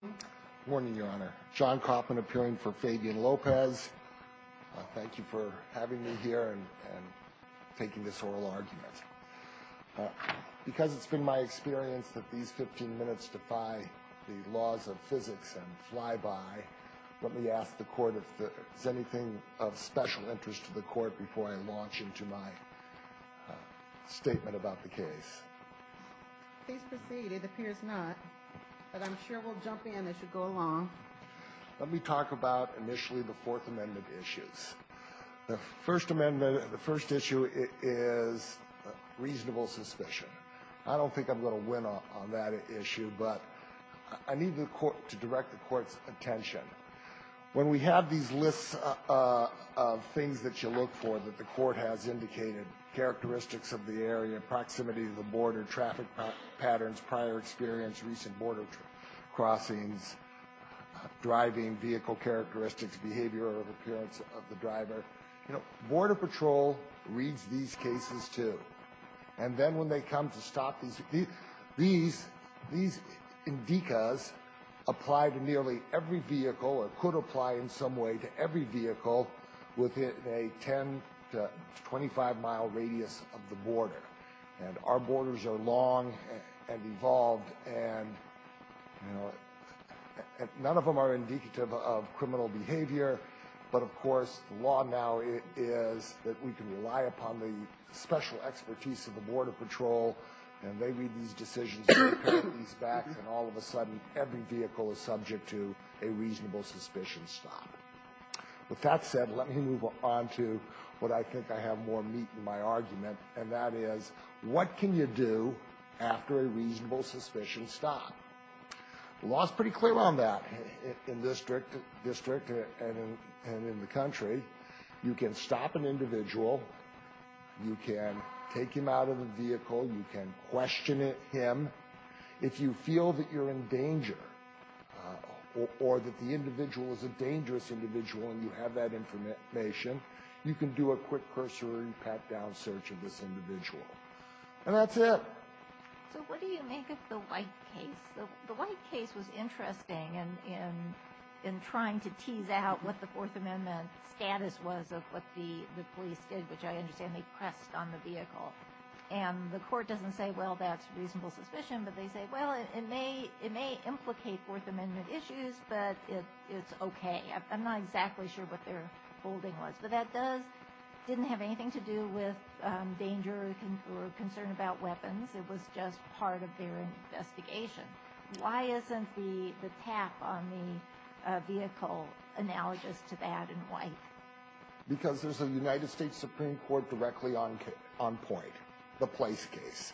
Good morning, Your Honor. John Kaufman appearing for Fabian Lopez. Thank you for having me here and taking this oral argument. Because it's been my experience that these 15 minutes defy the laws of physics and fly by, let me ask the Court if there's anything of special interest to the Court before I launch into my statement about the case. Please proceed. It appears not, but I'm sure we'll jump in as you go along. Let me talk about initially the Fourth Amendment issues. The First Amendment, the first issue is reasonable suspicion. I don't think I'm going to win on that issue, but I need the Court to direct the Court's attention. When we have these lists of things that you look for that the Court has indicated, characteristics of the area, proximity to the border, traffic patterns, prior experience, recent border crossings, driving, vehicle characteristics, behavior or appearance of the driver, you know, Border Patrol reads these cases, too. And then when they come to stop these, these indicas apply to nearly every vehicle or could apply in some way to every vehicle within a 10 to 25 mile radius of the border. And our borders are long and evolved, and, you know, none of them are indicative of criminal behavior. But, of course, the law now is that we can rely upon the special expertise of the Border Patrol, and they read these decisions and prepare these back, and all of a sudden every vehicle is subject to a reasonable suspicion stop. With that said, let me move on to what I think I have more meat in my argument, and that is, what can you do after a reasonable suspicion stop? The law is pretty clear on that in this district and in the country. You can stop an individual. You can take him out of the vehicle. You can question him. If you feel that you're in danger or that the individual is a dangerous individual and you have that information, you can do a quick cursory pat-down search of this individual. And that's it. So what do you make of the White case? The White case was interesting in trying to tease out what the Fourth Amendment status was of what the police did, which I understand they pressed on the vehicle. And the court doesn't say, well, that's reasonable suspicion, but they say, well, it may implicate Fourth Amendment issues, but it's okay. I'm not exactly sure what their holding was, but that didn't have anything to do with danger or concern about weapons. It was just part of their investigation. Why isn't the tap on the vehicle analogous to that in White? Because there's a United States Supreme Court directly on point, the Place case.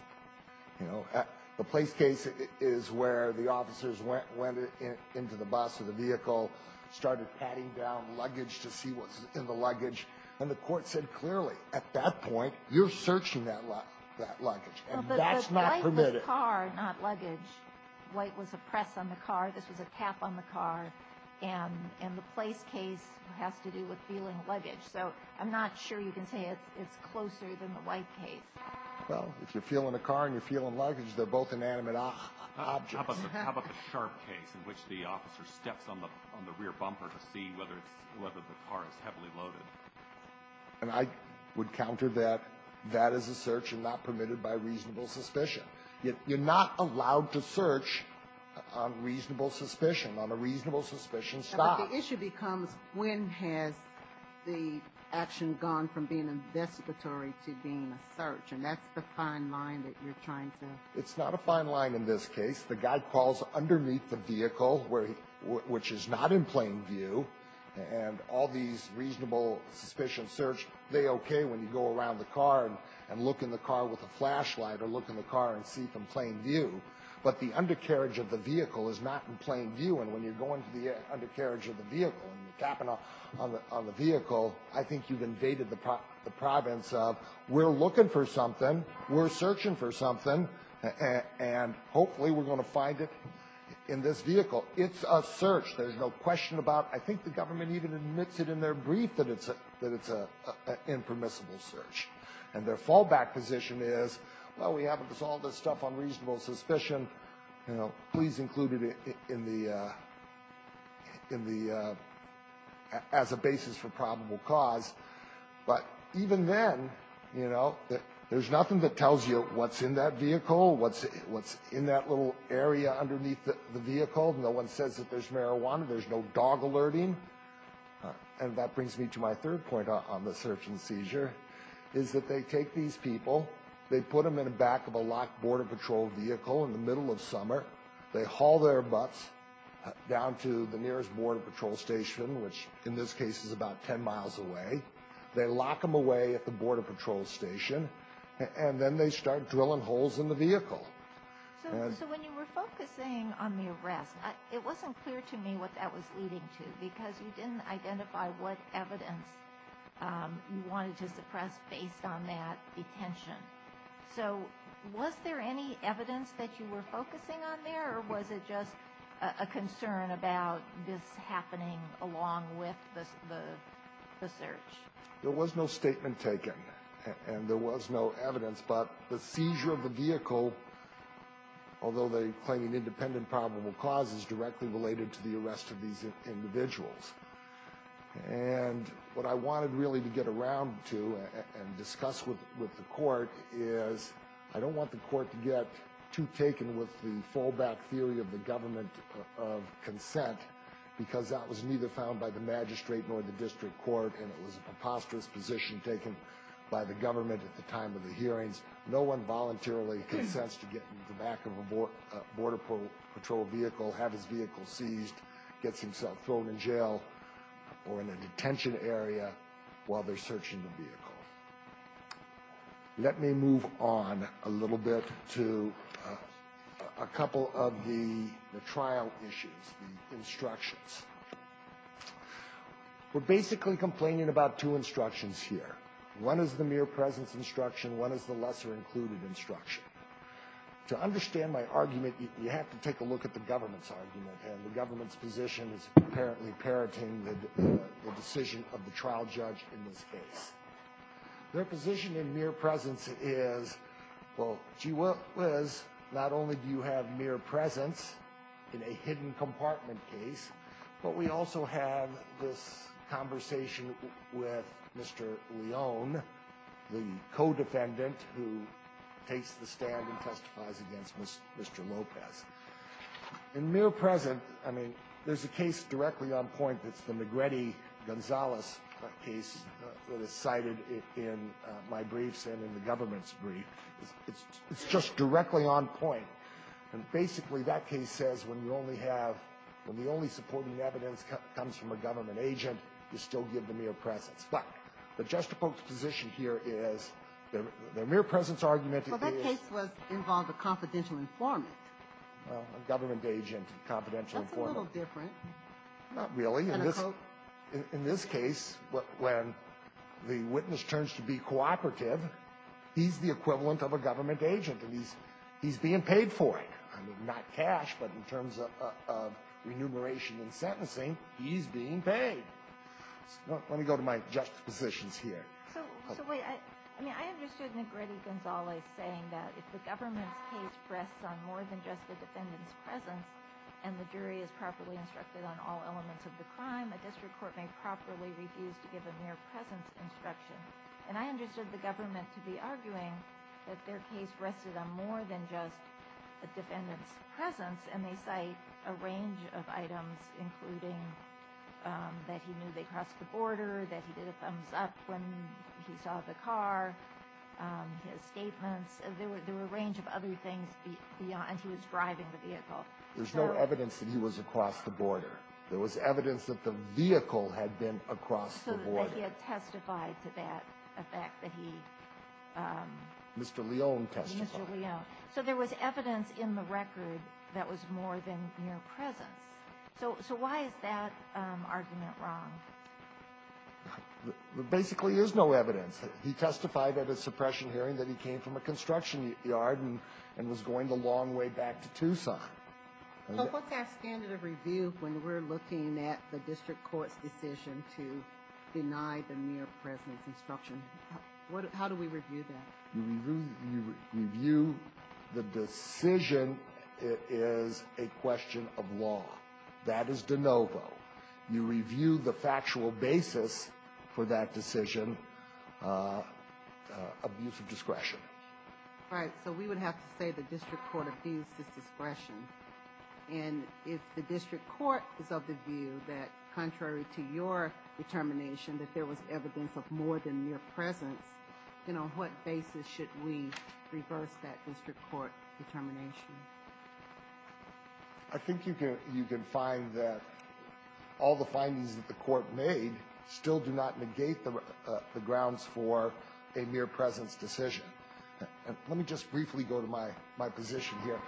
The Place case is where the officers went into the bus or the vehicle, started patting down luggage to see what was in the luggage, and the court said clearly, at that point, you're searching that luggage, and that's not permitted. White was a car, not luggage. White was a press on the car. This was a tap on the car. And the Place case has to do with feeling luggage. So I'm not sure you can say it's closer than the White case. Well, if you're feeling a car and you're feeling luggage, they're both inanimate objects. How about the Sharp case in which the officer steps on the rear bumper to see whether the car is heavily loaded? And I would counter that that is a search and not permitted by reasonable suspicion. You're not allowed to search on reasonable suspicion. On a reasonable suspicion, stop. But the issue becomes, when has the action gone from being investigatory to being a search? And that's the fine line that you're trying to... It's not a fine line in this case. The guy crawls underneath the vehicle, which is not in plain view, and all these reasonable suspicion search, they okay when you go around the car and look in the car with a flashlight or look in the car and see from plain view. But the undercarriage of the vehicle is not in plain view, and when you're going to the undercarriage of the vehicle and you're tapping on the vehicle, I think you've invaded the province of we're looking for something, we're searching for something, and hopefully we're going to find it in this vehicle. It's a search. There's no question about it. I think the government even admits it in their brief that it's an impermissible search. And their fallback position is, well, we haven't resolved this stuff on reasonable suspicion. Please include it as a basis for probable cause. But even then, there's nothing that tells you what's in that vehicle, what's in that little area underneath the vehicle. No one says that there's marijuana. There's no dog alerting. And that brings me to my third point on the search and seizure, is that they take these people, they put them in the back of a locked border patrol vehicle in the middle of summer. They haul their butts down to the nearest border patrol station, which in this case is about 10 miles away. They lock them away at the border patrol station, and then they start drilling holes in the vehicle. So when you were focusing on the arrest, it wasn't clear to me what that was leading to, because you didn't identify what evidence you wanted to suppress based on that detention. So was there any evidence that you were focusing on there, or was it just a concern about this happening along with the search? There was no statement taken, and there was no evidence. But the seizure of the vehicle, although they claim an independent probable cause, is directly related to the arrest of these individuals. And what I wanted really to get around to and discuss with the court is, I don't want the court to get too taken with the fallback theory of the government of consent, because that was neither found by the magistrate nor the district court, and it was a preposterous position taken by the government at the time of the hearings. No one voluntarily consents to get in the back of a border patrol vehicle, have his vehicle seized, get himself thrown in jail or in a detention area while they're searching the vehicle. Let me move on a little bit to a couple of the trial issues, the instructions. We're basically complaining about two instructions here. One is the mere presence instruction. One is the lesser included instruction. To understand my argument, you have to take a look at the government's argument, and the government's position is apparently parroting the decision of the trial judge in this case. Their position in mere presence is, well, gee whiz, not only do you have mere presence in a hidden compartment case, but we also have this conversation with Mr. Leone, the co-defendant who takes the stand in this case. He takes the stand and testifies against Mr. Lopez. In mere presence, I mean, there's a case directly on point that's the Magretti-Gonzalez case that is cited in my briefs and in the government's brief. It's just directly on point. And basically, that case says when you only have the only supporting evidence comes from a government agent, you still give the mere presence. But the juxtaposed position here is the mere presence argument is the case was involved a confidential informant, a government agent, confidential informant. That's a little different. Not really. In this case, when the witness turns to be cooperative, he's the equivalent of a government agent, and he's being paid for it. I mean, not cash, but in terms of remuneration and sentencing, he's being paid. Let me go to my juxtapositions here. So, wait. I mean, I understood Magretti-Gonzalez saying that if the government's case rests on more than just the defendant's presence and the jury is properly instructed on all elements of the crime, a district court may properly refuse to give a mere presence instruction. And I understood the government to be arguing that their case rested on more than just a defendant's presence. And they cite a range of items, including that he knew they crossed the border, that he did a thumbs-up when he saw the car, his statements. There were a range of other things beyond he was driving the vehicle. There's no evidence that he was across the border. There was evidence that the vehicle had been across the border. That he had testified to that, the fact that he… Mr. Leone testified. Mr. Leone. So there was evidence in the record that was more than mere presence. So why is that argument wrong? There basically is no evidence. He testified at a suppression hearing that he came from a construction yard and was going the long way back to Tucson. So what's our standard of review when we're looking at the district court's decision to deny the mere presence instruction? How do we review that? You review the decision. It is a question of law. That is de novo. You review the factual basis for that decision, abuse of discretion. Right, so we would have to say the district court abused his discretion. And if the district court is of the view that contrary to your determination that there was evidence of more than mere presence, then on what basis should we reverse that district court determination? I think you can find that all the findings that the court made still do not negate the grounds for a mere presence decision. Let me just briefly go to my position here.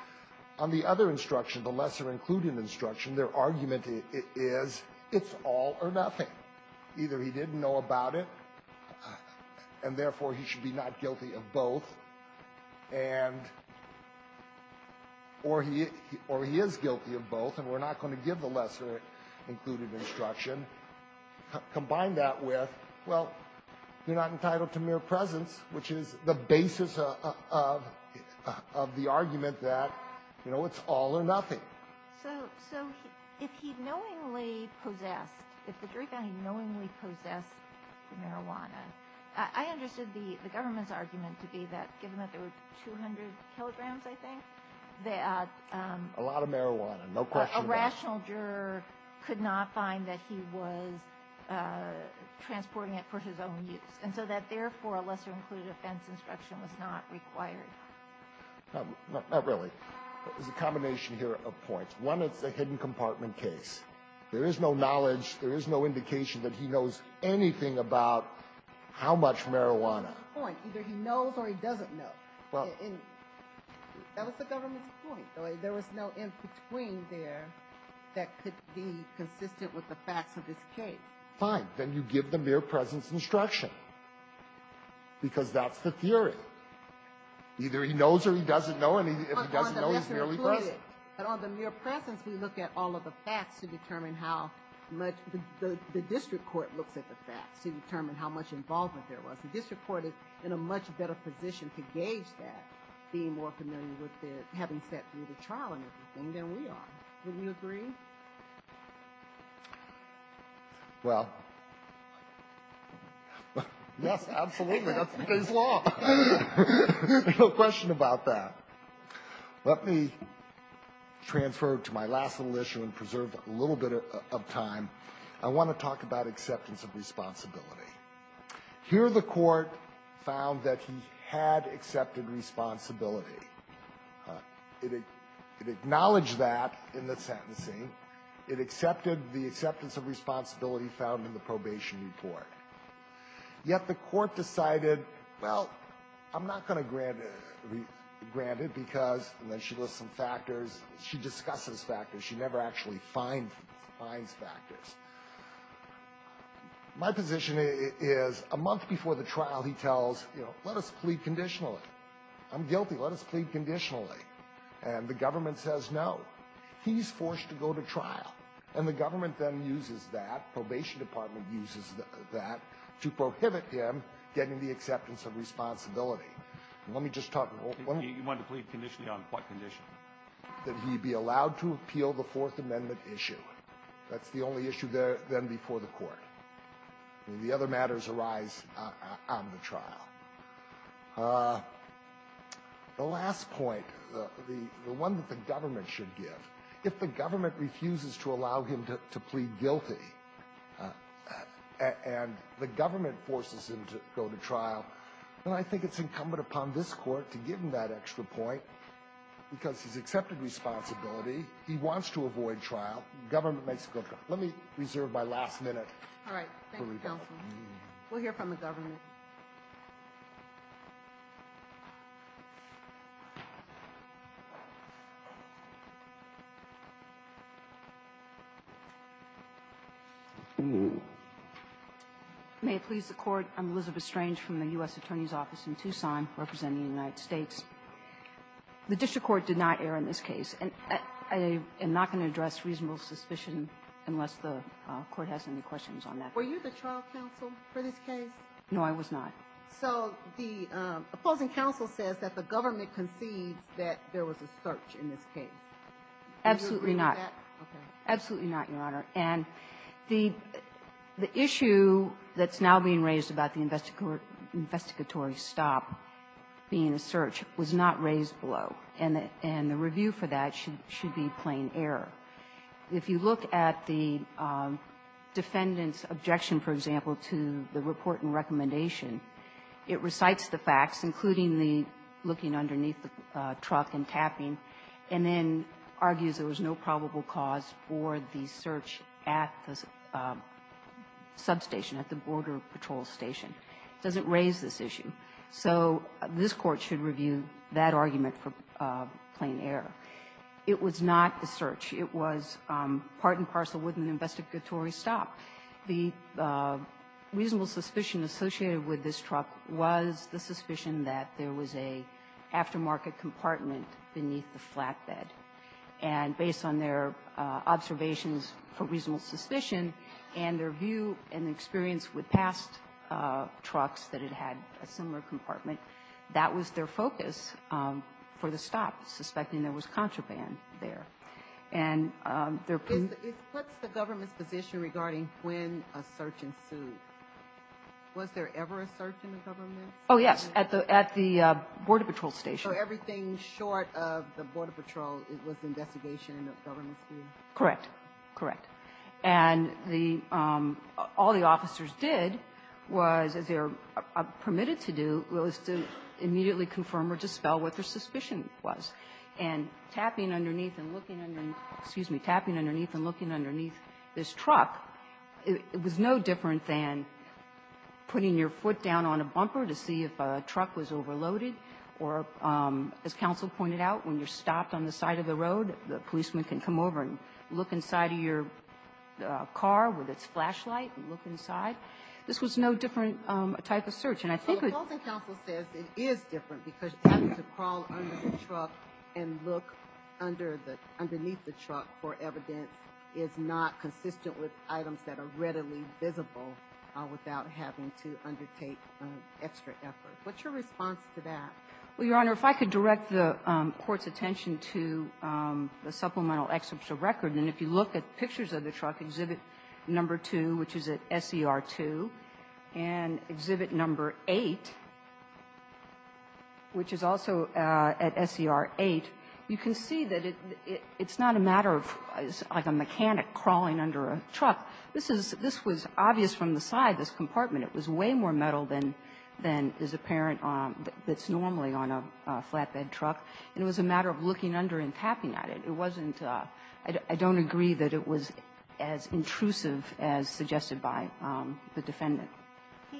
On the other instruction, the lesser-included instruction, their argument is it's all or nothing. Either he didn't know about it, and therefore he should be not guilty of both. And or he is guilty of both, and we're not going to give the lesser-included instruction. Combine that with, well, you're not entitled to mere presence, which is the basis of the argument that, you know, it's all or nothing. So if he knowingly possessed, if the jury found he knowingly possessed the marijuana, I understood the government's argument to be that given that there were 200 kilograms, I think, that a rational juror could not find that he was transporting it for his own use. And so that, therefore, a lesser-included offense instruction was not required. Not really. There's a combination here of points. One, it's a hidden compartment case. There is no knowledge, there is no indication that he knows anything about how much marijuana. Point. Either he knows or he doesn't know. Well. And that was the government's point. There was no in-between there that could be consistent with the facts of his case. Fine. Then you give the mere presence instruction, because that's the theory. Either he knows or he doesn't know, and if he doesn't know, he's merely present. Right. But on the mere presence, we look at all of the facts to determine how much the district court looks at the facts to determine how much involvement there was. The district court is in a much better position to gauge that, being more familiar with it, having sat through the trial and everything, than we are. Wouldn't you agree? Well, yes, absolutely. That's the case law. No question about that. Let me transfer to my last little issue and preserve a little bit of time. I want to talk about acceptance of responsibility. Here the Court found that he had accepted responsibility. It acknowledged that in the sentencing. It accepted the acceptance of responsibility found in the probation report. Yet the Court decided, well, I'm not going to grant it because, and then she lists some factors. She discusses factors. She never actually finds factors. My position is a month before the trial, he tells, you know, let us plead conditionally. I'm guilty. Let us plead conditionally. And the government says no. He's forced to go to trial. And the government then uses that. To prohibit him getting the acceptance of responsibility. Let me just talk. You want to plead conditionally on what condition? That he be allowed to appeal the Fourth Amendment issue. That's the only issue then before the Court. The other matters arise on the trial. The last point, the one that the government should give, if the government refuses to allow him to plead guilty, and the government forces him to go to trial, then I think it's incumbent upon this Court to give him that extra point because he's accepted responsibility. He wants to avoid trial. The government makes him go to trial. Let me reserve my last minute. All right. Thank you, counsel. We'll hear from the government. May it please the Court. I'm Elizabeth Strange from the U.S. Attorney's Office in Tucson representing the United States. The district court did not err in this case, and I am not going to address reasonable suspicion unless the Court has any questions on that. Were you the trial counsel for this case? No, I was not. So the opposing counsel says that the government concedes that there was a search in this case. Absolutely not. Okay. Absolutely not, Your Honor. And the issue that's now being raised about the investigatory stop being a search was not raised below. And the review for that should be plain error. If you look at the defendant's objection, for example, to the report and recommendation, it recites the facts, including the looking underneath the truck and tapping, and then argues there was no probable cause for the search at the substation, at the Border Patrol station. It doesn't raise this issue. So this Court should review that argument for plain error. It was not a search. It was part and parcel with an investigatory stop. The reasonable suspicion associated with this truck was the suspicion that there was an aftermarket compartment beneath the flatbed. And based on their observations for reasonable suspicion and their view and experience with past trucks that it had a similar compartment, that was their focus for the stop, suspecting there was contraband there. And their ---- What's the government's position regarding when a search ensued? Was there ever a search in the government? Oh, yes. At the Border Patrol station. So everything short of the Border Patrol was investigation in the government's view? Correct. Correct. And the ---- all the officers did was, as they're permitted to do, was to immediately confirm or dispel what their suspicion was. And tapping underneath and looking underneath this truck, it was no different than putting your foot down on a bumper to see if a truck was overloaded or, as counsel pointed out, when you're stopped on the side of the road, the policeman can come over and look inside of your car with its flashlight and look inside. This was no different type of search. And I think we ---- Counsel says it is different because having to crawl under the truck and look under the ---- underneath the truck for evidence is not consistent with items that are readily visible without having to undertake extra effort. What's your response to that? Well, Your Honor, if I could direct the Court's attention to the supplemental record, and if you look at pictures of the truck, Exhibit No. 2, which is at SER 2, and Exhibit No. 8, which is also at SER 8, you can see that it's not a matter of, like, a mechanic crawling under a truck. This is ---- this was obvious from the side, this compartment. It was way more metal than is apparent that's normally on a flatbed truck. And it was a matter of looking under and tapping at it. It wasn't a ---- I don't agree that it was as intrusive as suggested by the defendant. He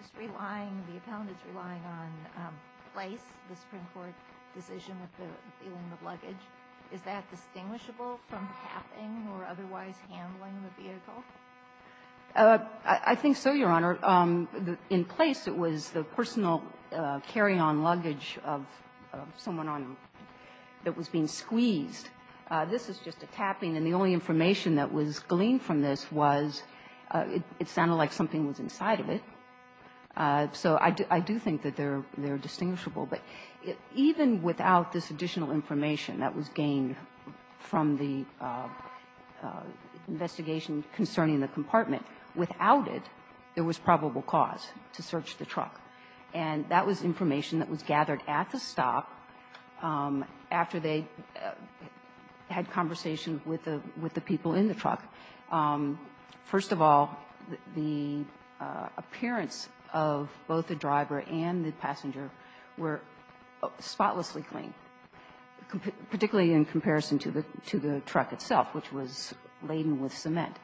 is relying, the appellant is relying on place, the Supreme Court decision with the dealing of luggage. I think so, Your Honor. In place, it was the personal carry-on luggage of someone on a ---- that was being squeezed. This is just a tapping, and the only information that was gleaned from this was it sounded like something was inside of it. So I do think that they're distinguishable. But even without this additional information that was gained from the investigation concerning the compartment, without it, there was probable cause to search the truck. And that was information that was gathered at the stop after they had conversation with the people in the truck. First of all, the appearance of both the driver and the passenger were spotlessly clean, particularly in comparison to the truck itself, which was laden with cement.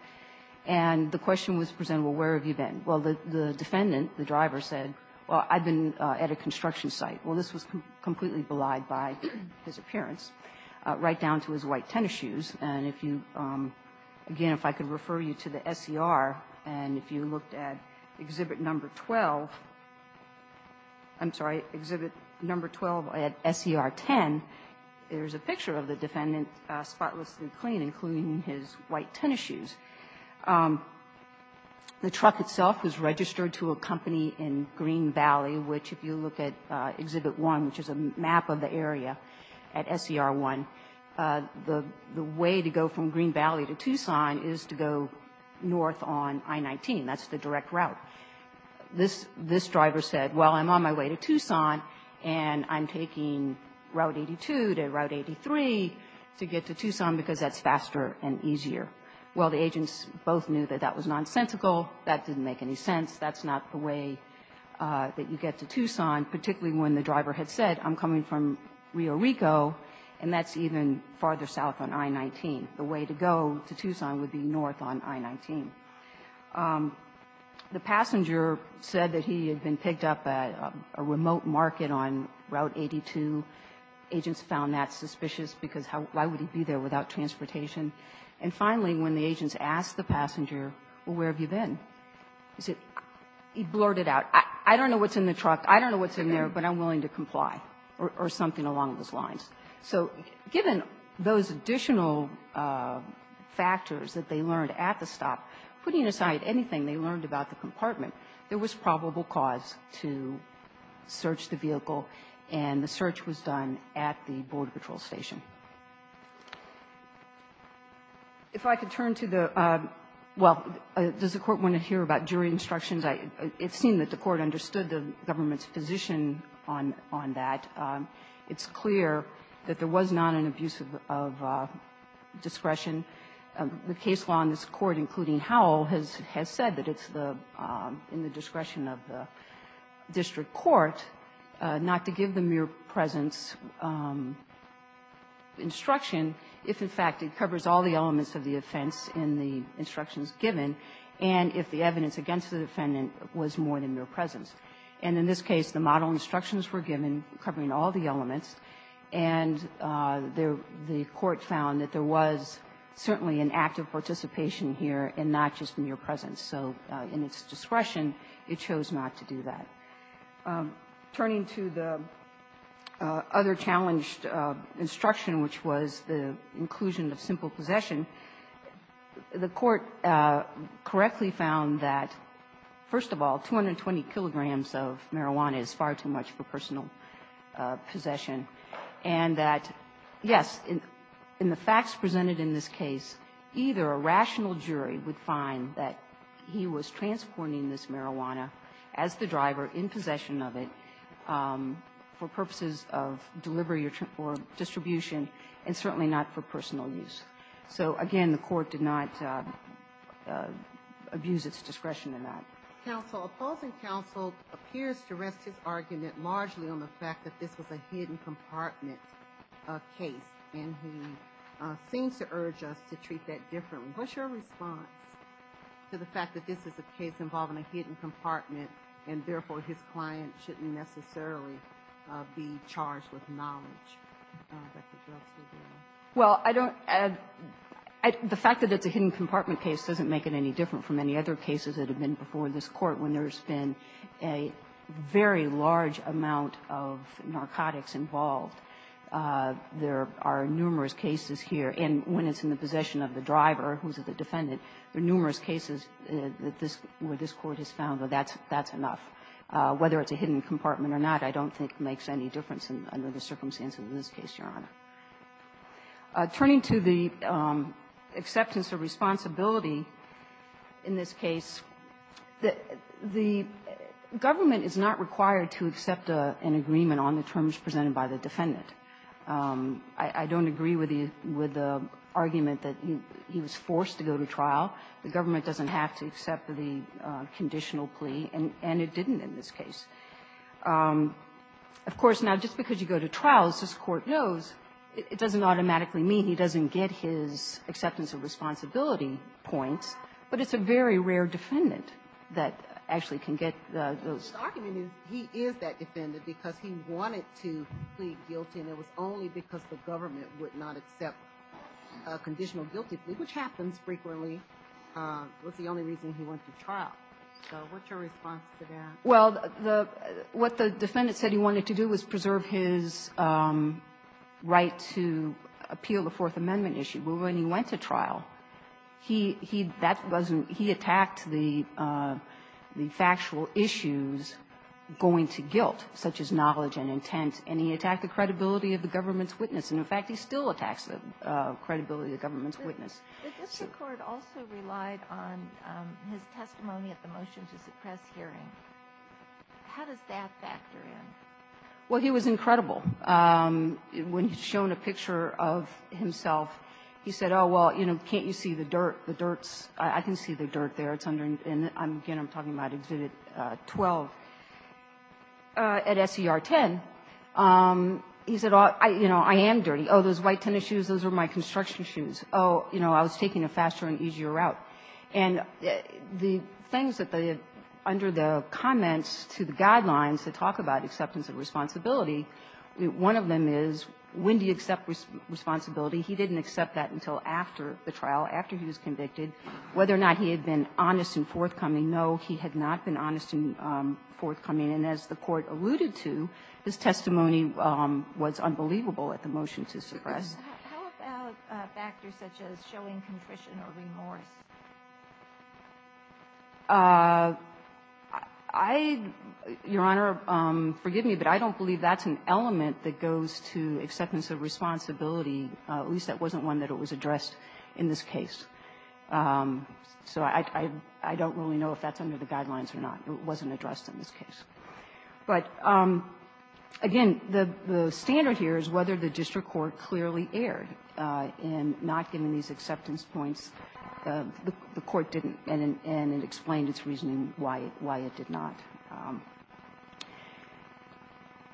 And the question was presented, well, where have you been? Well, the defendant, the driver, said, well, I've been at a construction site. Well, this was completely belied by his appearance, right down to his white tennis shoes. And if you ---- again, if I could refer you to the SER, and if you looked at Exhibit No. 12 ---- I'm sorry, Exhibit No. 12 at SER 10, there's a picture of the defendant spotlessly clean, including his white tennis shoes. The truck itself was registered to a company in Green Valley, which, if you look at Exhibit 1, which is a map of the area at SER 1, the way to go from Green Valley to Tucson is to go north on I-19. That's the direct route. This driver said, well, I'm on my way to Tucson, and I'm taking Route 82 to Route 83 to get to Tucson, because that's faster and easier. Well, the agents both knew that that was nonsensical. That didn't make any sense. That's not the way that you get to Tucson, particularly when the driver had said, I'm coming from Rio Rico, and that's even farther south on I-19. The way to go to Tucson would be north on I-19. The passenger said that he had been picked up at a remote market on Route 82. Agents found that suspicious, because how why would he be there without transportation? And finally, when the agents asked the passenger, well, where have you been? He blurted out, I don't know what's in the truck, I don't know what's in there, but I'm willing to comply, or something along those lines. So given those additional factors that they learned at the stop, putting aside anything they learned about the compartment, there was probable cause to search the vehicle. And the search was done at the Border Patrol station. If I could turn to the, well, does the court want to hear about jury instructions? It seemed that the court understood the government's position on that. It's clear that there was not an abuse of discretion. The case law in this court, including Howell, has said that it's in the discretion of the district court, not to give the mere presence instruction if, in fact, it covers all the elements of the offense in the instructions given, and if the evidence against the defendant was more than mere presence. And in this case, the model instructions were given covering all the elements, and the court found that there was certainly an act of participation here and not just mere presence. So in its discretion, it chose not to do that. Turning to the other challenged instruction, which was the inclusion of simple possession, the court correctly found that, first of all, 220 kilograms of marijuana is far too much for personal possession, and that, yes, in the facts presented in this case, either a rational jury would find that he was transporting this marijuana as the driver in possession of it for purposes of delivery or distribution and certainly not for personal use. So, again, the court did not abuse its discretion in that. Counsel, opposing counsel appears to rest his argument largely on the fact that this was a hidden compartment case, and he seems to urge us to treat that differently. And what's your response to the fact that this is a case involving a hidden compartment and therefore his client shouldn't necessarily be charged with knowledge that the drugs were there? Well, I don't add the fact that it's a hidden compartment case doesn't make it any different from any other cases that have been before this Court when there's been a very large amount of narcotics involved. There are numerous cases here, and when it's in the possession of the driver who's the defendant, there are numerous cases that this court has found that that's enough. Whether it's a hidden compartment or not, I don't think makes any difference under the circumstances of this case, Your Honor. Turning to the acceptance of responsibility in this case, the government is not required to accept an agreement on the terms presented by the defendant. I don't agree with the argument that he was forced to go to trial. The government doesn't have to accept the conditional plea, and it didn't in this case. Of course, now, just because you go to trial, as this Court knows, it doesn't automatically mean he doesn't get his acceptance of responsibility points, but it's a very rare defendant that actually can get those. My argument is he is that defendant because he wanted to plead guilty, and it was only because the government would not accept a conditional guilty plea, which happens frequently. It was the only reason he went to trial. So what's your response to that? Well, the — what the defendant said he wanted to do was preserve his right to appeal the Fourth Amendment issue. But when he went to trial, he — he — that wasn't — he attacked the — the factual issues going to guilt, such as knowledge and intent, and he attacked the credibility of the government's witness. And, in fact, he still attacks the credibility of the government's witness. But this Court also relied on his testimony at the motion-to-suppress hearing. How does that factor in? Well, he was incredible. When he's shown a picture of himself, he said, oh, well, you know, can't you see the dirt? The dirt's — I can see the dirt there. It's under — and, again, I'm talking about Exhibit 12 at SER 10. He said, you know, I am dirty. Oh, those white tennis shoes, those are my construction shoes. Oh, you know, I was taking a faster and easier route. And the things that they have — under the comments to the guidelines that talk about acceptance of responsibility, one of them is, when do you accept responsibility? He didn't accept that until after the trial, after he was convicted. Whether or not he had been honest and forthcoming, no, he had not been honest and forthcoming. And as the Court alluded to, his testimony was unbelievable at the motion-to-suppress. How about factors such as showing contrition or remorse? I — Your Honor, forgive me, but I don't believe that's an element that goes to acceptance of responsibility, at least that wasn't one that was addressed in this case. So I don't really know if that's under the guidelines or not. It wasn't addressed in this case. But, again, the standard here is whether the district court clearly erred in not giving these acceptance points. The Court didn't, and it explained its reasoning why it did not.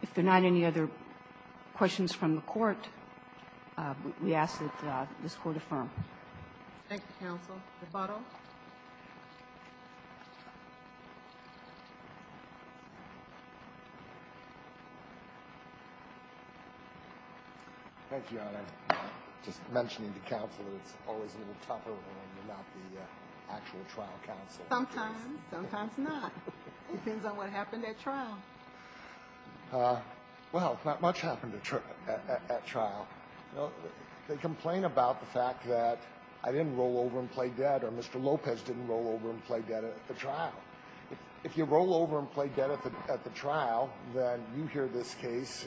If there are not any other questions from the Court, we ask that this Court affirm. Thank you, Counsel. DeBato? Thank you, Your Honor. Just mentioning to counsel that it's always a little tougher when you're not the actual trial counsel. Sometimes, sometimes not. It depends on what happened at trial. Well, not much happened at trial. You know, they complain about the fact that I didn't roll over and play dead or Mr. Lopez didn't roll over and play dead at the trial. If you roll over and play dead at the trial, then you hear this case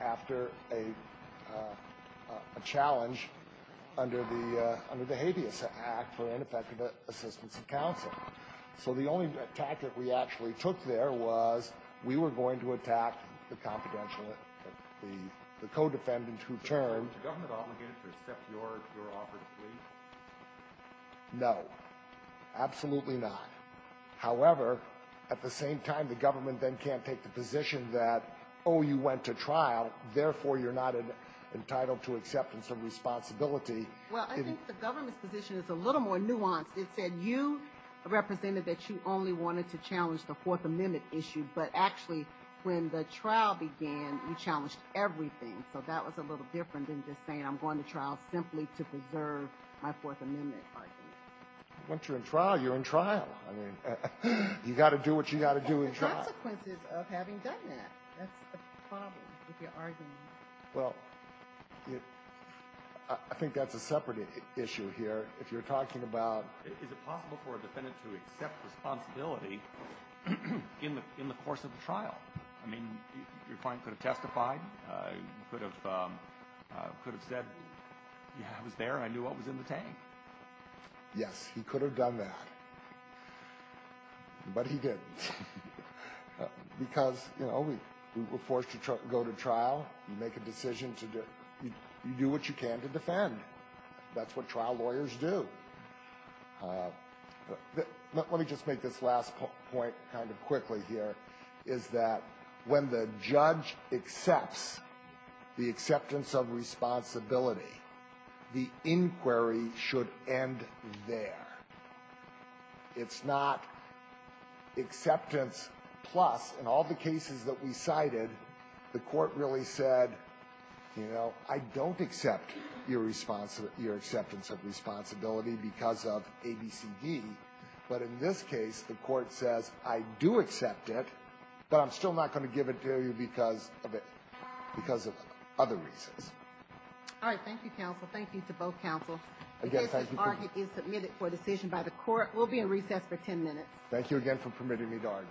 after a challenge under the — under the Habeas Act for ineffective assistance of counsel. So the only tactic we actually took there was we were going to attack the confidential the co-defendant who turned — Is the government obligated to accept your offer to plead? No. Absolutely not. However, at the same time, the government then can't take the position that, oh, you went to trial, therefore you're not entitled to acceptance of responsibility. Well, I think the government's position is a little more nuanced. It said you represented that you only wanted to challenge the Fourth Amendment issue. But actually, when the trial began, you challenged everything. So that was a little different than just saying I'm going to trial simply to preserve my Fourth Amendment argument. Once you're in trial, you're in trial. I mean, you got to do what you got to do in trial. And the consequences of having done that. That's the problem with your argument. Well, I think that's a separate issue here. If you're talking about — Is it possible for a defendant to accept responsibility in the course of the trial? I mean, your client could have testified, could have said, yeah, I was there, I knew what was in the tank. Yes, he could have done that. But he didn't. Because, you know, we were forced to go to trial. You make a decision to do — you do what you can to defend. That's what trial lawyers do. Let me just make this last point kind of quickly here, is that when the judge accepts the acceptance of responsibility, the inquiry should end there. It's not acceptance plus. In all the cases that we cited, the court really said, you know, I don't accept your acceptance of responsibility because of A, B, C, D. But in this case, the court says, I do accept it, but I'm still not going to give it to you because of other reasons. All right. Thank you, counsel. Thank you to both counsel. Again, thank you for — This argument is submitted for decision by the court. We'll be in recess for 10 minutes. Thank you again for permitting me to argue.